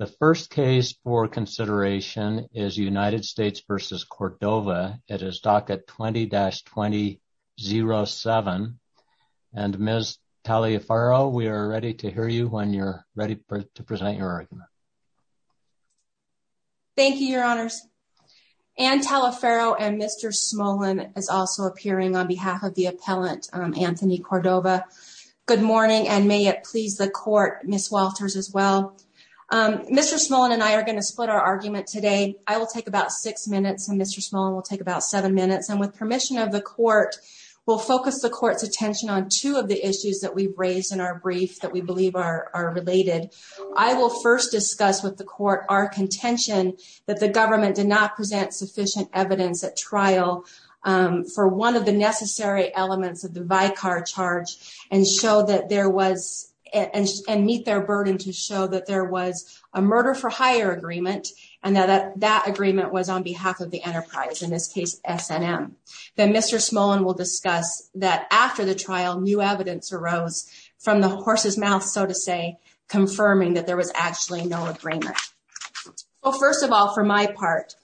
The first case for consideration is United States v. Cordova. It is docket 20-2007. And Ms. Taliaferro, we are ready to hear you when you're ready to present your argument. Thank you, your honors. Anne Taliaferro and Mr. Smolin is also appearing on behalf of the Mr. Smolin and I are going to split our argument today. I will take about six minutes and Mr. Smolin will take about seven minutes. And with permission of the court, we'll focus the court's attention on two of the issues that we've raised in our brief that we believe are related. I will first discuss with the court our contention that the government did not present sufficient evidence at trial for one of the necessary elements of the vicar charge and meet their murder-for-hire agreement and that that agreement was on behalf of the enterprise, in this case, S&M. Then Mr. Smolin will discuss that after the trial, new evidence arose from the horse's mouth, so to say, confirming that there was actually no agreement. Well, first of all, for my part,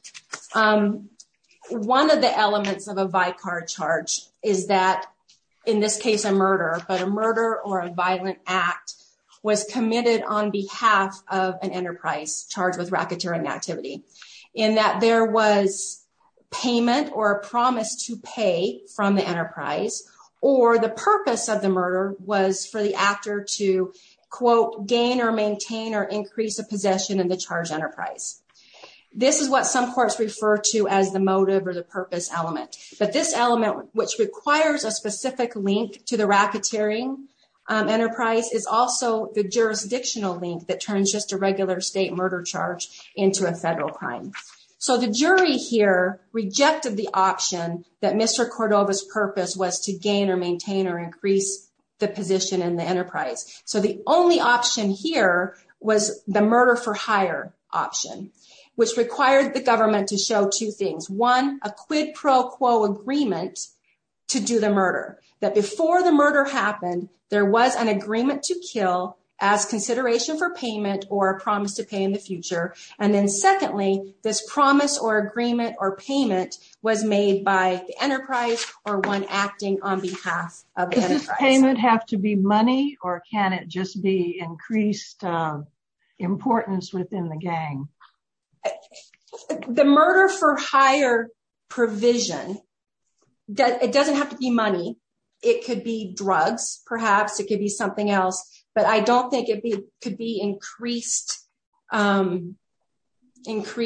one of the elements of a vicar charge is that, in this case, a murder, but a murder or a violent act, was committed on behalf of an enterprise charged with racketeering activity in that there was payment or a promise to pay from the enterprise or the purpose of the murder was for the actor to gain or maintain or increase a possession of the charged enterprise. This is what some courts refer to as the motive or the purpose element, but this element, which is also the jurisdictional link that turns just a regular state murder charge into a federal crime. So the jury here rejected the option that Mr. Cordova's purpose was to gain or maintain or increase the position in the enterprise. So the only option here was the murder-for-hire option, which required the government to show two things. One, a quid pro quo agreement to do the murder, that before the murder happened, there was an agreement to kill as consideration for payment or a promise to pay in the future. And then secondly, this promise or agreement or payment was made by the enterprise or one acting on behalf of the enterprise. Does this payment have to be money or can it just be increased importance within the gang? The murder-for-hire provision, it doesn't have to be money. It could be drugs, perhaps. It could be something else, but I don't think it could be increased, I don't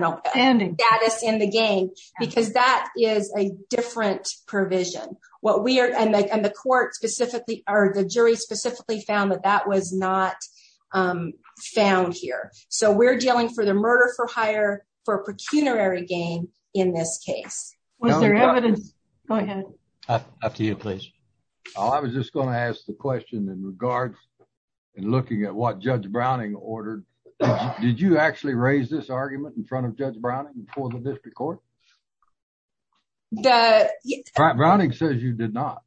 know, status in the gang, because that is a different provision. And the court specifically, or the jury specifically found that that was not found here. So we're dealing for the murder-for-hire for a pecuniary game in this case. Was there evidence? Go ahead. After you, please. I was just going to ask the question in regards and looking at what Judge Browning ordered. Did you actually raise this argument in front of Judge Browning before the district court? Browning says you did not.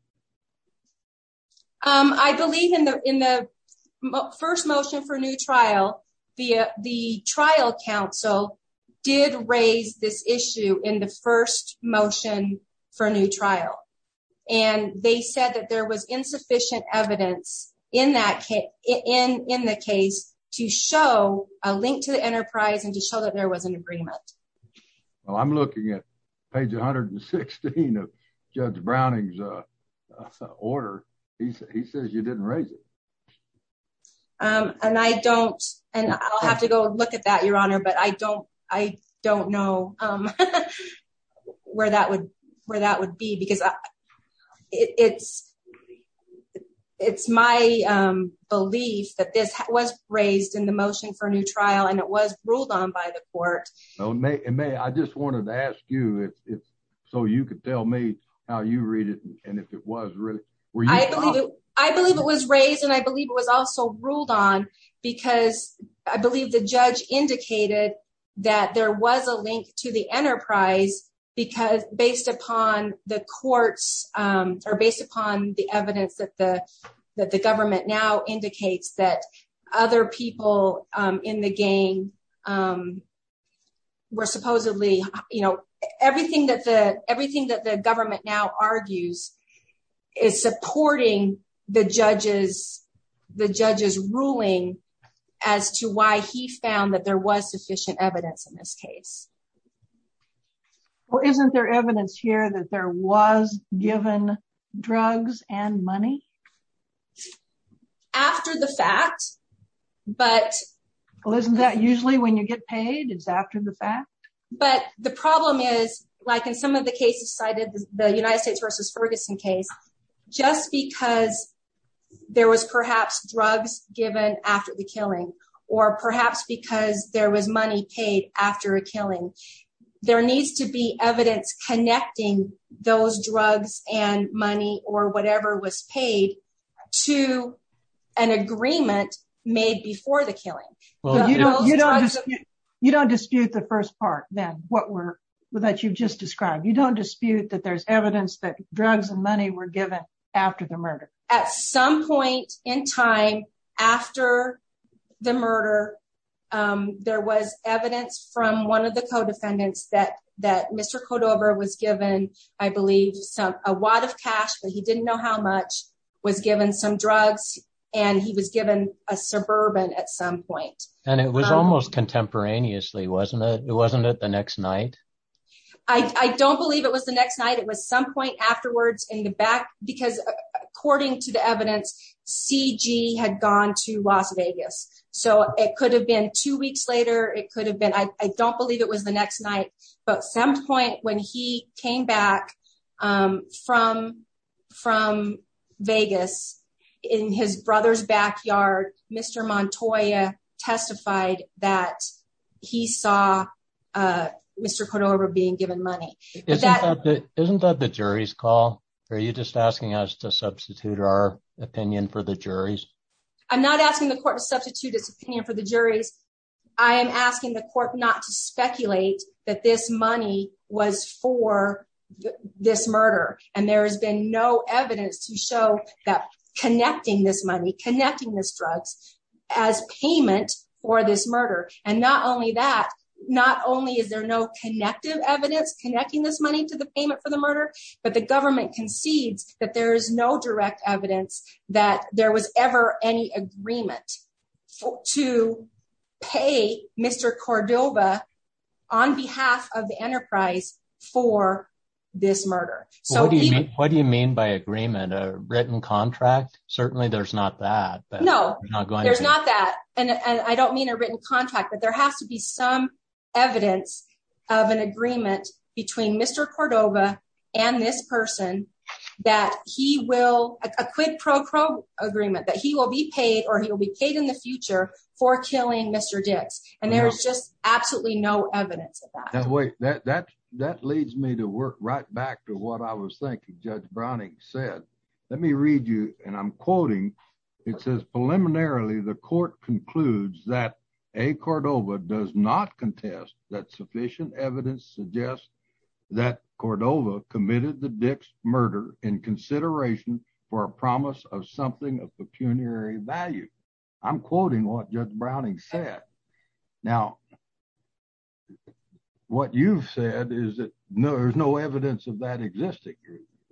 I believe in the first motion for new trial, the trial council did raise this issue in the first motion for a new trial. And they said that there was insufficient evidence in the case to show a link to the enterprise and to show that there was an agreement. Well, I'm looking at page 116 of Judge Browning's order. He says you didn't raise it. And I don't, and I'll have to go look at that, Your Honor, but I don't know where that would be because it's my belief that this was raised in the motion for a new trial and it was ruled on by the court. May, I just wanted to ask you, so you could tell me how you read it and if it was really. I believe it was raised and I believe it was also ruled on because I believe the judge indicated that there was a link to the enterprise because based upon the courts or based upon the where supposedly everything that the government now argues is supporting the judge's ruling as to why he found that there was sufficient evidence in this case. Well, isn't there evidence here that there was given drugs and money? After the fact, but. Well, isn't that usually when you get paid, it's after the fact? But the problem is like in some of the cases cited the United States versus Ferguson case, just because there was perhaps drugs given after the killing or perhaps because there was money paid after a killing, there needs to be evidence connecting those drugs and money or whatever was paid to an agreement made before the killing. Well, you know, you don't dispute the first part then what were that you've just described. You don't dispute that there's evidence that drugs and money were given after the murder. At some point in time after the murder, there was evidence from one of the co-defendants that that Mr. Cordova was given, I believe, a wad of cash, but he didn't know how much, was given some drugs and he was given a suburban at some point. And it was almost contemporaneously, wasn't it? It wasn't it the next night? I don't believe it was the next night. It was some point afterwards in the back, because according to the evidence, C.G. had gone to Las Vegas. So it could have been two weeks later. It could have been. I don't believe it was the next night, but some point when he came back from Vegas in his brother's backyard, Mr. Montoya testified that he saw Mr. Cordova being given money. Isn't that the jury's call? Are you just asking us to substitute our opinion for the juries? I'm not asking the court to substitute its opinion for the juries. I am asking the court not to speculate that this money was for this murder. And there has been no evidence to show that connecting this money, connecting this drugs as payment for this murder. And not only that, not only is there no connective evidence connecting this money to the payment for the murder, but the government concedes that there is no direct evidence that there was ever any agreement to pay Mr. Cordova on behalf of the enterprise for this murder. What do you mean by agreement? A written contract? Certainly there's not that. No, there's not that. And I don't mean a written contract, but there has to be some evidence of an agreement between Mr. Cordova and this person that he will, a quid pro quo agreement, that he will be paid or he will be paid in the future for killing Mr. Dix. And there's just absolutely no evidence of that. That leads me to work right back to what I was thinking Judge Browning said. Let me read you, and I'm quoting, it says preliminarily the court concludes that A. Cordova does not contest that sufficient evidence suggests that Cordova committed the Dix murder in consideration for a promise of something of pecuniary value. I'm quoting what Judge Browning said. Now, what you've said is that there's no evidence of that existing.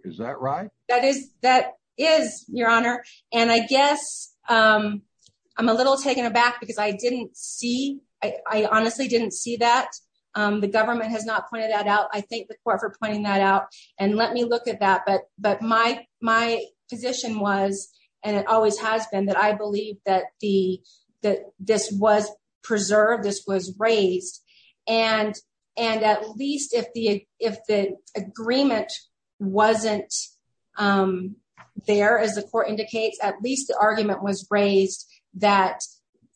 Is that right? That is, that is your honor. And I guess I'm a little taken aback because I didn't see, I honestly didn't see that. The government has pointed that out. I thank the court for pointing that out and let me look at that. But my position was, and it always has been that I believe that this was preserved, this was raised. And at least if the agreement wasn't there, as the court indicates, at least the argument was raised that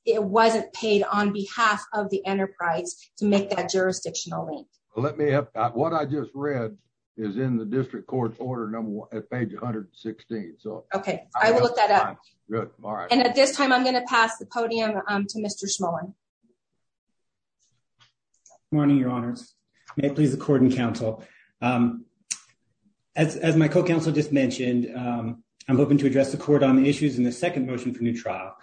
it wasn't paid on behalf of the enterprise to make that jurisdictional link. What I just read is in the district court's order at page 116. Okay, I will look that up. And at this time, I'm going to pass the podium to Mr. Schmoen. Good morning, your honors. May it please the court and counsel. As my co-counsel just mentioned, I'm hoping to address the court on the issues in the second motion for new trial.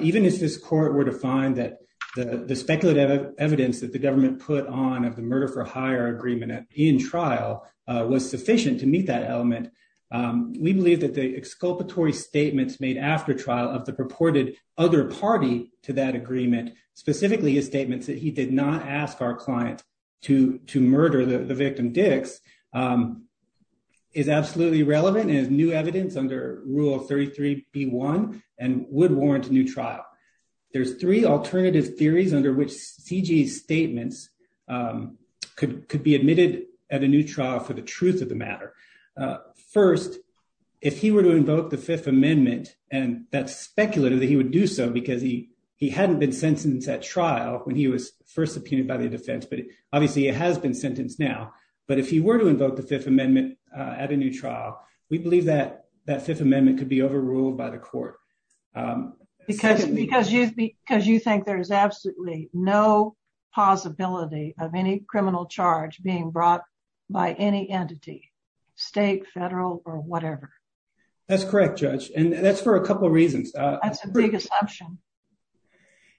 Even if this court were to find that the speculative evidence that the government put on of the murder for hire agreement in trial was sufficient to meet that element, we believe that the exculpatory statements made after trial of the purported other party to that agreement, specifically his statements that he did not ask our client to murder the victim Dix, is absolutely relevant and is new evidence under Rule 33b1 and would warrant a new trial. There's three alternative theories under which C.G.'s statements could be admitted at a new trial for the truth of the matter. First, if he were to invoke the Fifth Amendment, and that's speculative that he would do so because he hadn't been sentenced at trial when he was first subpoenaed by the defense, but obviously it has been sentenced now, but if he were to invoke the Fifth Amendment at a new trial, we believe that that Fifth Amendment could be overruled by court. Because you think there is absolutely no possibility of any criminal charge being brought by any entity, state, federal, or whatever. That's correct, Judge, and that's for a couple of reasons. That's a big assumption.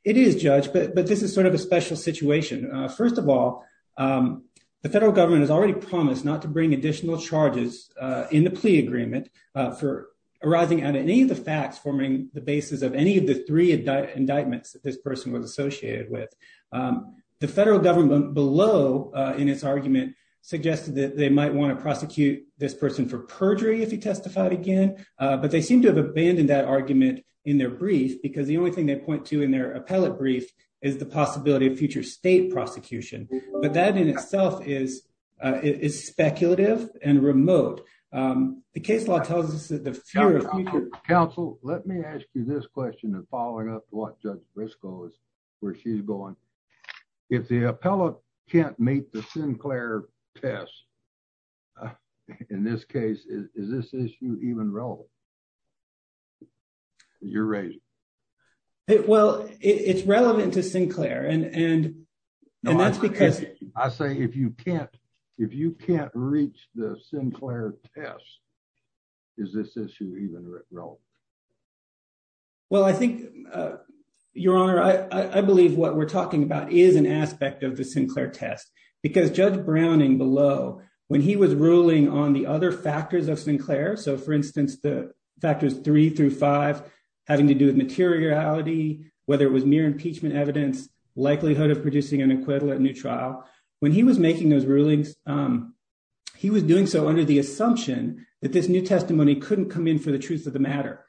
It is, Judge, but this is sort of a special situation. First of all, the federal government has already promised not to bring additional charges in the plea agreement for arising out of any of the facts forming the basis of any of the three indictments that this person was associated with. The federal government below in its argument suggested that they might want to prosecute this person for perjury if he testified again, but they seem to have abandoned that argument in their brief because the only thing they point to in their appellate brief is the possibility of future state prosecution. But that in itself is speculative and remote. The case law tells us that the future... Counsel, let me ask you this question in following up to what Judge Briscoe is, where she's going. If the appellate can't meet the Sinclair test, in this case, is this issue even relevant? You're raising. Well, it's relevant to Sinclair, and that's because... I say if you can't reach the Sinclair test, is this issue even relevant? Well, I think, Your Honor, I believe what we're talking about is an aspect of the Sinclair test because Judge Browning below, when he was ruling on the other factors of Sinclair, so for instance, the factors three through five having to do with materiality, whether it was mere impeachment evidence, likelihood of producing an acquittal at new trial. When he was making those rulings, he was doing so under the assumption that this new testimony couldn't come in for the truth of the matter.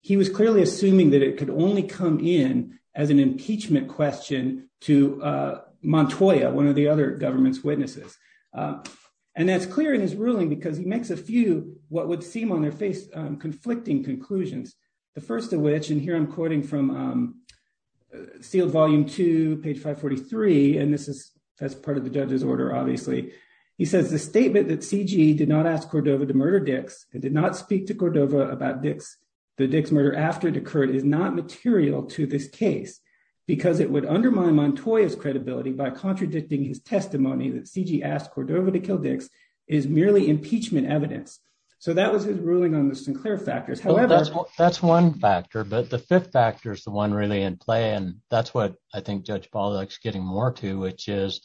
He was clearly assuming that it could only come in as an impeachment question to Montoya, one of the other government's witnesses. And that's clear in his ruling because he makes a few what would seem on their face conflicting conclusions. The first of which, and here I'm quoting from Sealed Volume Two, page 543, and that's part of the judge's order, obviously. He says, the statement that C.G. did not ask Cordova to murder Dix and did not speak to Cordova about the Dix murder after it occurred is not material to this case because it would undermine Montoya's credibility by contradicting his testimony that C.G. asked Cordova to kill Dix is merely impeachment evidence. So that was his ruling on the Sinclair factors. However... The second factor is the one really in play, and that's what I think Judge Ball is getting more to, which is,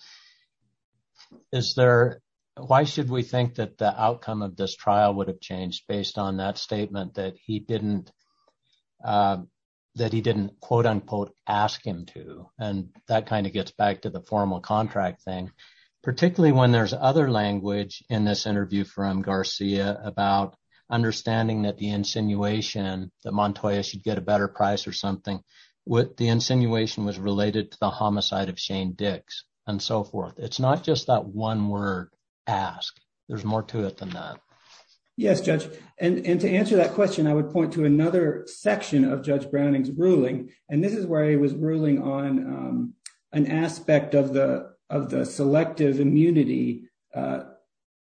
why should we think that the outcome of this trial would have changed based on that statement that he didn't, quote unquote, ask him to? And that kind of gets back to the formal contract thing, particularly when there's other language in this interview from Garcia about understanding that the insinuation that Montoya should get a better price or something, what the insinuation was related to the homicide of Shane Dix and so forth. It's not just that one word, ask. There's more to it than that. Yes, Judge. And to answer that question, I would point to another section of Judge Browning's ruling, and this is where he was ruling on an aspect of the selective immunity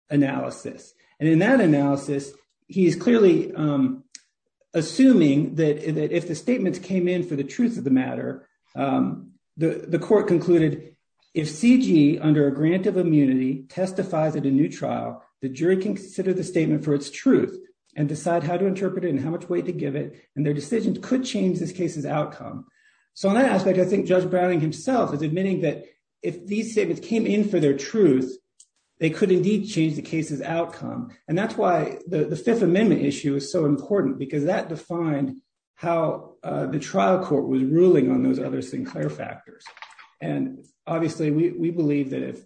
analysis. And in that analysis, he's clearly assuming that if the statements came in for the truth of the matter, the court concluded, if C.G. under a grant of immunity testifies at a new trial, the jury can consider the statement for its truth and decide how to interpret it and how much weight to give it, and their decision could change this case's outcome. So on that aspect, I think Judge Browning himself is admitting that if these statements came in for their truth, they could indeed change the case's outcome. And that's why the Fifth Amendment issue is so important because that defined how the trial court was ruling on those other Sinclair factors. And obviously, we believe that if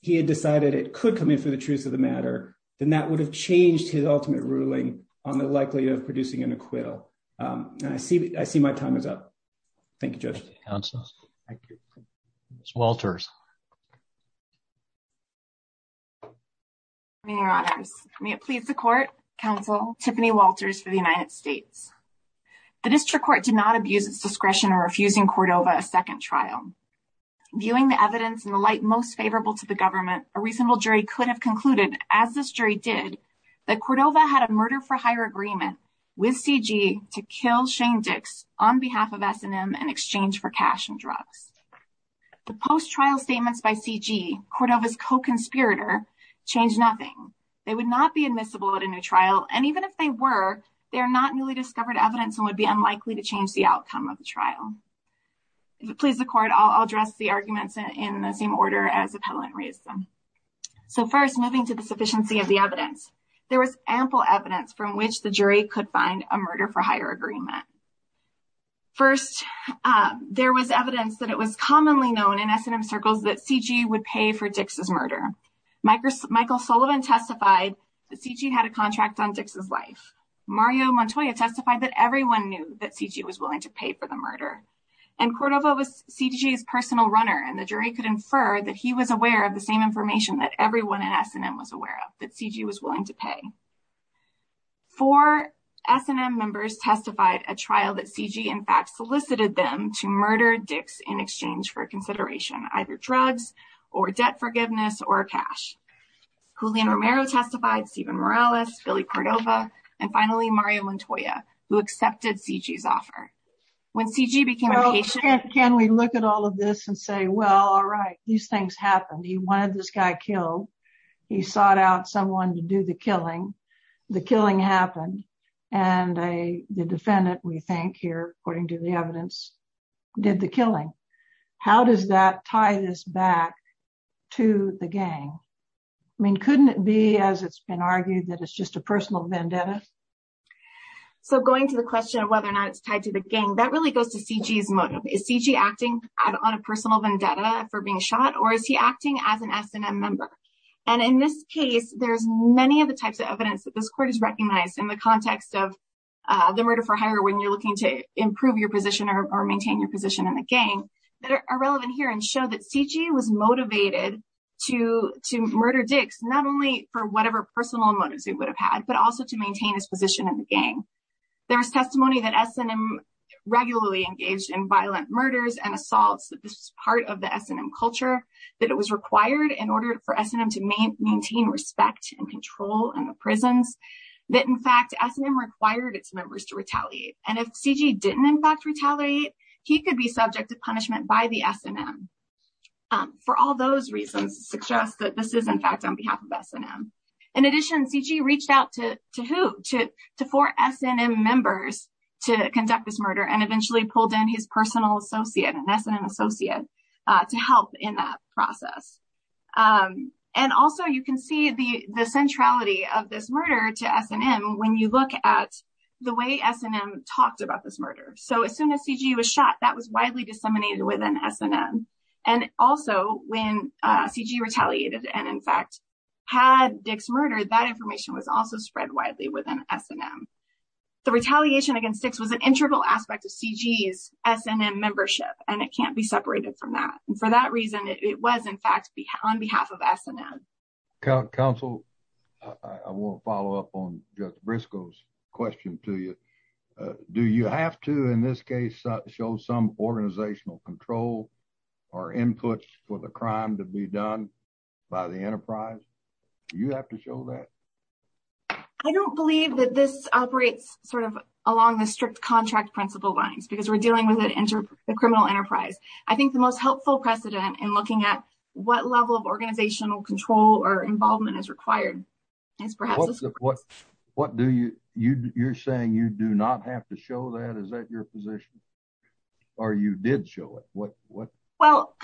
he had decided it could come in for the truth of the matter, then that would have changed his ultimate ruling on the likelihood of producing an acquittal. And I see my time is up. Thank you, Judge. Thank you, counsel. Thank you. Ms. Walters. Many honors. May it please the court, counsel, Tiffany Walters for the United States. The district court did not abuse its discretion in refusing Cordova a second trial. Viewing the evidence in the light most favorable to the government, a reasonable jury could have for higher agreement with C.G. to kill Shane Dix on behalf of S&M in exchange for cash and drugs. The post-trial statements by C.G., Cordova's co-conspirator, changed nothing. They would not be admissible at a new trial, and even if they were, they are not newly discovered evidence and would be unlikely to change the outcome of the trial. If it pleases the court, I'll address the arguments in the same order as the appellant raised them. So first, moving to the sufficiency of the evidence. There was ample evidence from which the jury could find a murder for higher agreement. First, there was evidence that it was commonly known in S&M circles that C.G. would pay for Dix's murder. Michael Sullivan testified that C.G. had a contract on Dix's life. Mario Montoya testified that everyone knew that C.G. was willing to pay for the murder. And Cordova was C.G.'s personal runner, and the jury could infer that he was aware of the same information that everyone at S&M was aware of, that C.G. was willing to pay. Four S&M members testified at trial that C.G. in fact solicited them to murder Dix in exchange for consideration, either drugs or debt forgiveness or cash. Julian Romero testified, Steven Morales, Billy Cordova, and finally Mario Montoya, who accepted C.G.'s offer. When C.G. became a patient... Well, can we look at all of this and say, well, all right, these things happened. He wanted this guy killed. He sought out someone to do the killing. The killing happened, and the defendant, we think here, according to the evidence, did the killing. How does that tie this back to the gang? I mean, couldn't it be, as it's been argued, that it's just a personal vendetta? So, going to the question of whether or not it's tied to the gang, that really goes to C.G.'s motive. Is C.G. acting on a personal vendetta for being shot, or is he acting as an S&M member? And in this case, there's many of the types of evidence that this court has recognized in the context of the murder for hire when you're looking to improve your position or maintain your position in the gang that are relevant here and show that C.G. was motivated to murder Dix, not only for whatever personal motives he would have had, but also to maintain his position in the gang. There was testimony that S&M regularly engaged in violent murders and assaults, that this was part of the S&M culture, that it was required in order for S&M to maintain respect and control in the prisons, that, in fact, S&M required its members to retaliate. And if C.G. didn't embark to retaliate, he could be subject to punishment by the S&M. For all those reasons, it suggests that this is, in of S&M. In addition, C.G. reached out to who? To four S&M members to conduct this murder and eventually pulled in his personal associate, an S&M associate, to help in that process. And also, you can see the centrality of this murder to S&M when you look at the way S&M talked about this murder. So as soon as C.G. was shot, that was widely disseminated within S&M. And also, when C.G. retaliated and, in fact, had Dick's murder, that information was also spread widely within S&M. The retaliation against Dick's was an integral aspect of C.G.'s S&M membership, and it can't be separated from that. And for that reason, it was, in fact, on behalf of S&M. Counsel, I want to follow up on Judge Briscoe's question to you. Do you have to, in this case, show some organizational control or inputs for the crime to be done by the enterprise? Do you have to show that? I don't believe that this operates sort of along the strict contract principle lines, because we're dealing with a criminal enterprise. I think the most helpful precedent in looking at what level of organizational control or involvement is required is perhaps... What do you... You're saying you do not have to show that? Is that your position? Or you did show it? Well,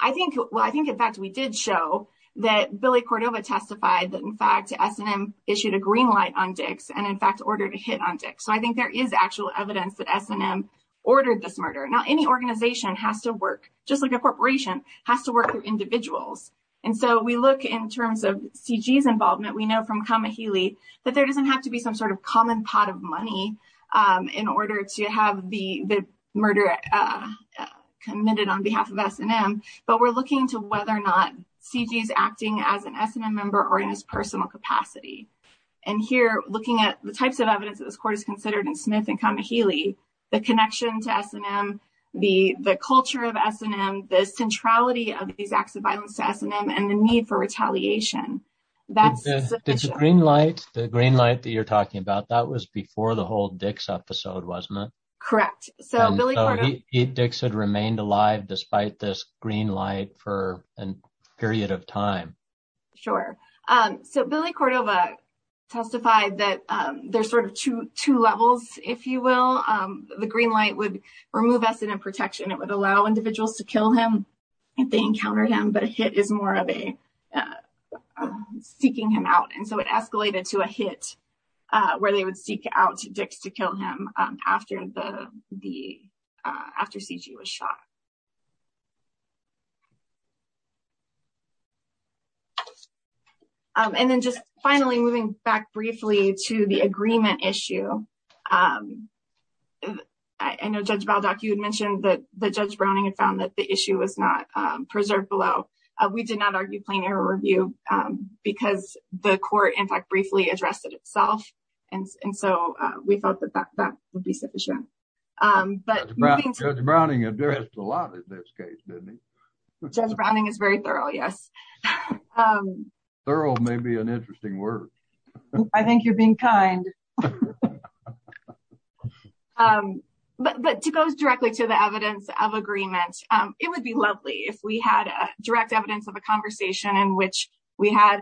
I think, in fact, we did show that Billy Cordova testified that, in fact, S&M issued a green light on Dick's and, in fact, ordered a hit on Dick's. So, I think there is actual evidence that S&M ordered this murder. Now, any organization has to work, just like a corporation, has to work with individuals. And so, we look, in terms of C.G.'s involvement, we know from Kamihili that there doesn't have to be some sort of common pot of money in order to have the murder committed on behalf of S&M, but we're looking to whether or not C.G.'s acting as an S&M member or in his personal capacity. And here, looking at the types of evidence that this court has considered in Smith and Kamihili, the connection to S&M, the culture of S&M, the centrality of these acts of violence to S&M, and the need for retaliation, that's sufficient. The green light that you're talking about, that was before the whole Dick's episode, wasn't it? Correct. So, Dick's had remained alive despite this green light for a period of time. Sure. So, Billy Cordova testified that there's sort of two levels, if you will. The green light would remove S&M protection, it would allow individuals to kill him if they encounter him, but a hit is more of a seeking him out. And so, it escalated to a hit where they would seek out Dick's to kill him after C.G. was shot. And then, just finally, moving back briefly to the agreement issue, I know Judge Baldock, you had mentioned that Judge Browning had found that the issue was not preserved below. We did not argue plain error review because the court, in fact, briefly addressed it itself. And so, we felt that that would be sufficient. Judge Browning addressed a lot in this case, didn't he? Judge Browning is very thorough, yes. Thorough may be an interesting word. I think you're being kind. But to go directly to the evidence of agreement, it would be lovely if we had direct evidence of a conversation in which we had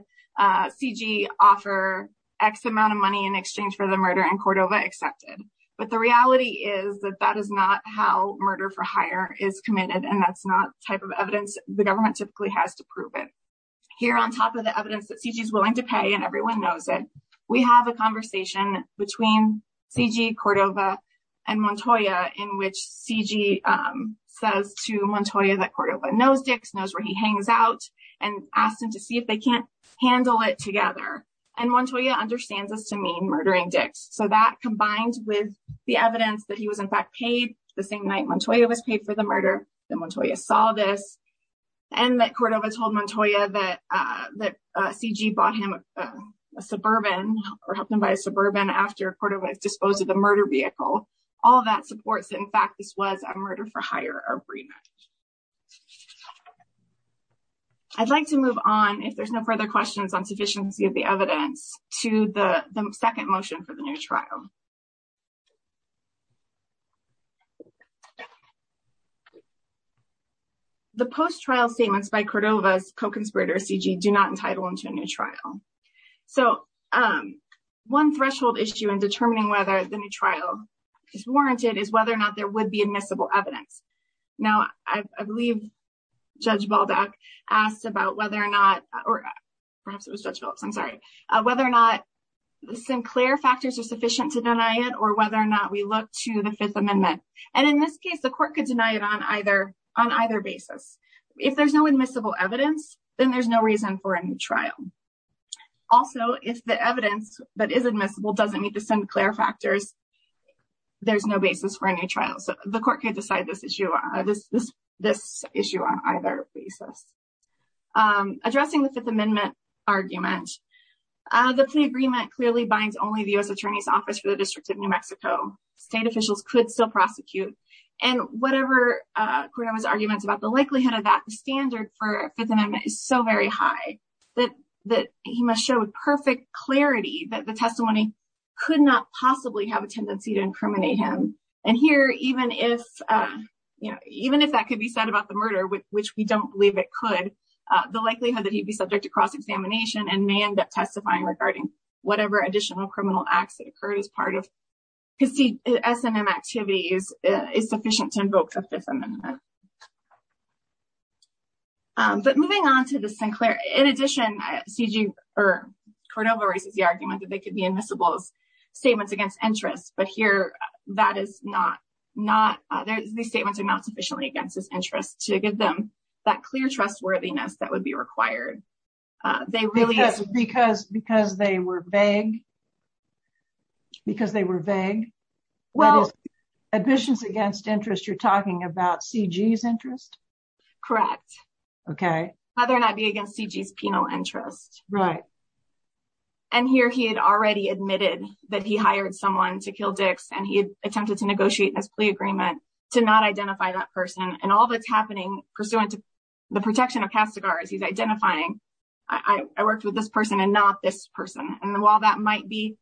C.G. offer X amount of money in exchange for the murder and Cordova accepted. But the reality is that that is not how murder for hire is committed, and that's not the type of evidence the government typically has to prove it. Here, on top of the evidence that C.G.'s willing to pay, and everyone knows it, we have a conversation between C.G., Cordova, and Montoya in which C.G. says to Montoya that Cordova knows Dix, knows where he hangs out, and asks him to see if they can't handle it together. And Montoya understands this to mean murdering Dix. So, that combined with the evidence that he was, in fact, paid the same night Montoya was paid for the murder, that Montoya saw this, and that Cordova told Montoya that C.G. bought him a Suburban, or helped him buy a Suburban after Cordova disposed of the murder vehicle, all that supports that, in fact, this was a murder for hire agreement. I'd like to move on, if there's no further questions on sufficiency of the evidence, to the second motion for the new trial. The post-trial statements by Cordova's co-conspirator C.G. do not entitle him to a new trial. So, one threshold issue in determining whether the new trial is warranted is whether or not there would be admissible evidence. Now, I believe Judge Baldock asked about whether or not, or perhaps it was Judge Phillips, I'm sorry, whether or not Sinclair factors are sufficient to deny it, or whether or not we look to the Fifth Amendment. And in this case, the court could deny it on either basis. If there's no admissible evidence, then there's no reason for a new trial. Also, if the evidence that is admissible doesn't meet the Sinclair factors, there's no basis for a new trial. So, the court could decide this issue on either basis. Addressing the Fifth Amendment argument, the plea agreement clearly binds only the U.S. Attorney's Office for the District of New Mexico. State officials could still prosecute. And whatever Cordova's arguments about the likelihood of that standard for Fifth Amendment is so very high that he must show with perfect clarity that the testimony could not possibly have a tendency to incriminate him. And here, even if that could be said about the murder, which we don't believe it could, the likelihood that he'd be subject to cross-examination and may end up testifying regarding whatever additional criminal acts that occurred as part of S&M activities is sufficient to invoke the Fifth Amendment. But moving on to the Sinclair, in addition, Cordova raises the argument that they could be admissible as statements against interest. But here, these statements are not sufficiently against his interest to give them that clear trustworthiness that would be required. Because they were vague? Because they were vague? Well, admissions against interest, you're talking about C.G.'s interest? Correct. Okay. Whether or not it be against C.G.'s penal interest. Right. And here he had already admitted that he hired someone to kill Dix and he attempted to negotiate this plea agreement to not identify that person. And all that's happening pursuant to the protection of Castigar is he's identifying, I worked with this person and not this person. And while that might be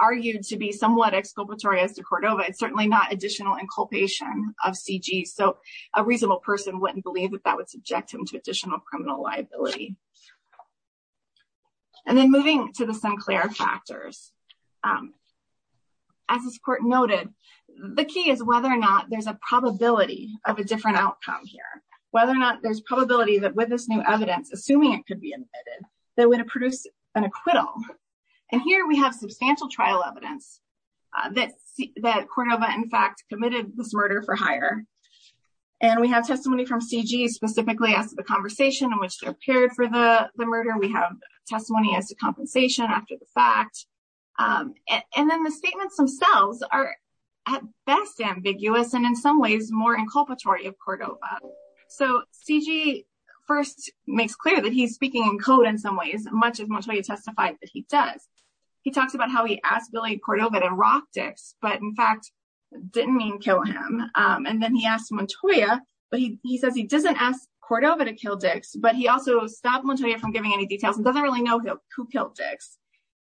argued to be somewhat exculpatory as to Cordova, it's certainly not additional inculpation of C.G. So a reasonable person wouldn't believe that that would subject him to additional criminal liability. And then moving to the Sinclair factors. As this court noted, the key is whether or not there's a probability of a different outcome here. Whether or not there's probability that with this new evidence, assuming it could be admitted, that would produce an acquittal. And here we have substantial trial evidence that Cordova in fact committed this murder for hire. And we have testimony from C.G. specifically as to the conversation in which they appeared for the murder. We have testimony as to compensation after the fact. And then the statements themselves are at best ambiguous and in some ways more inculpatory of Cordova. So C.G. first makes clear that he's speaking in code in some ways, much as Montoya testified that he does. He talks about how he asked Billy Cordova to rock Dix, but in fact didn't mean kill him. And then he asked Montoya, but he says he doesn't ask Cordova to kill Dix, but he also stopped Montoya from giving any details and doesn't really know who killed Dix.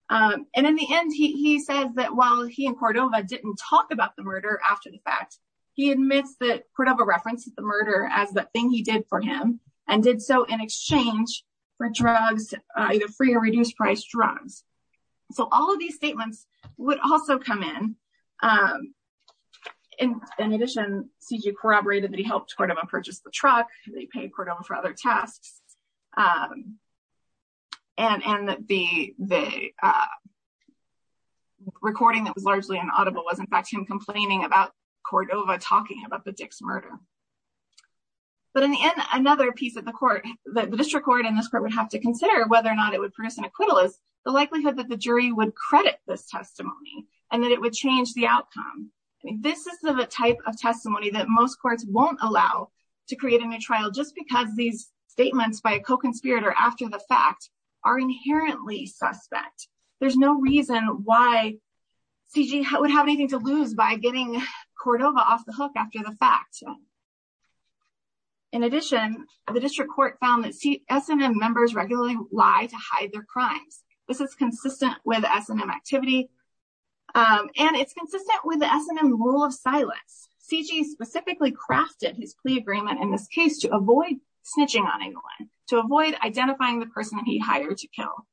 And in the end, he says that while he and Cordova didn't talk about the murder after the fact, he admits that Cordova references the murder as the thing he did for him and did so in exchange for drugs, either free or reduced price drugs. So all of these statements would also come in. In addition, C.G. corroborated that he helped Cordova purchase the truck. They paid Cordova for other tasks. And the recording that was largely inaudible was in fact him complaining about Cordova talking about the Dix murder. But in the end, another piece of the court, the district court and this court would have to consider whether or not it would produce an acquittal is the likelihood that the jury would credit this testimony and that it would change the outcome. This is the type of testimony that most courts won't allow to create a new trial just because these statements by a co-conspirator after the fact are inherently suspect. There's no reason why C.G. would have anything to lose by getting Cordova off the hook after the fact. In addition, the district court found that S&M members regularly lie to hide their crimes. This is consistent with S&M activity and it's consistent with the S&M rule of silence. C.G. specifically crafted his plea agreement in this case to avoid snitching on anyone, to avoid identifying the person he hired to kill.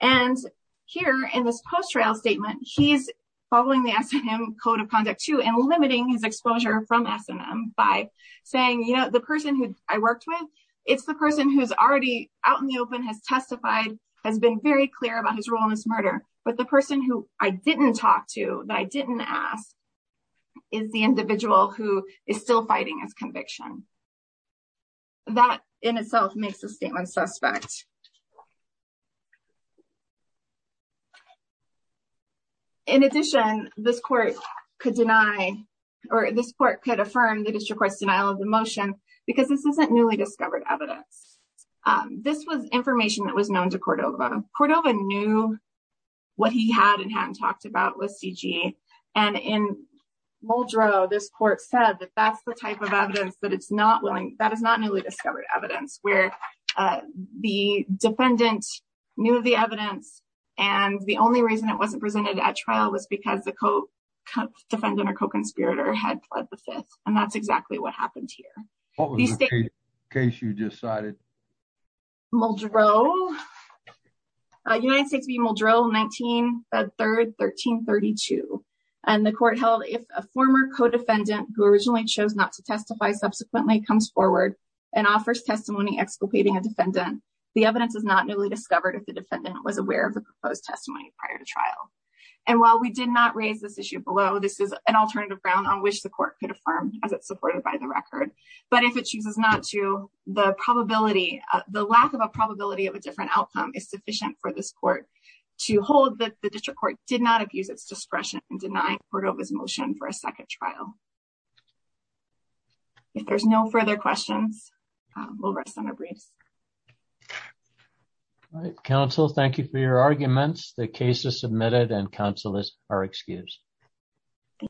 And here in this post-trial statement, he's following the S&M code of conduct too and limiting his exposure from S&M by saying, you know, the person who I worked with, it's the person who's already out in the open, has testified, has been very clear about his role in this murder. But the person who I didn't talk to, that I didn't ask, is the individual who is still fighting his conviction. That in itself makes the statement suspect. In addition, this court could deny or this court could affirm the district court's denial of the motion because this isn't newly discovered evidence. This was information that was known to Cordova. Cordova knew what he had and hadn't talked about with C.G. and in Muldrow, this court said that that's the type of evidence that it's not willing, that is not newly discovered evidence, where the defendant knew of the evidence and the only reason it wasn't presented at trial was because the co-defendant or co-conspirator had pled the fifth and that's exactly what happened here. What was the case you decided? Muldrow. United States v. Muldrow, 19-3-1332. And the court held if a former co-defendant who originally chose not to testify subsequently comes forward and offers testimony exculpating a defendant, the evidence is not newly discovered if the defendant was aware of the proposed testimony prior to trial. And while we did not raise this issue below, this is an alternative ground on which the court could affirm as it's supported by the record. But if it chooses not to, the probability, the lack of a probability of a different outcome is sufficient for this court to hold that the district court did not abuse its discretion in denying Cordova's motion for a second trial. If there's no further questions, we'll rest on our briefs. All right, counsel, thank you for your arguments. The case is submitted and counselors are excused.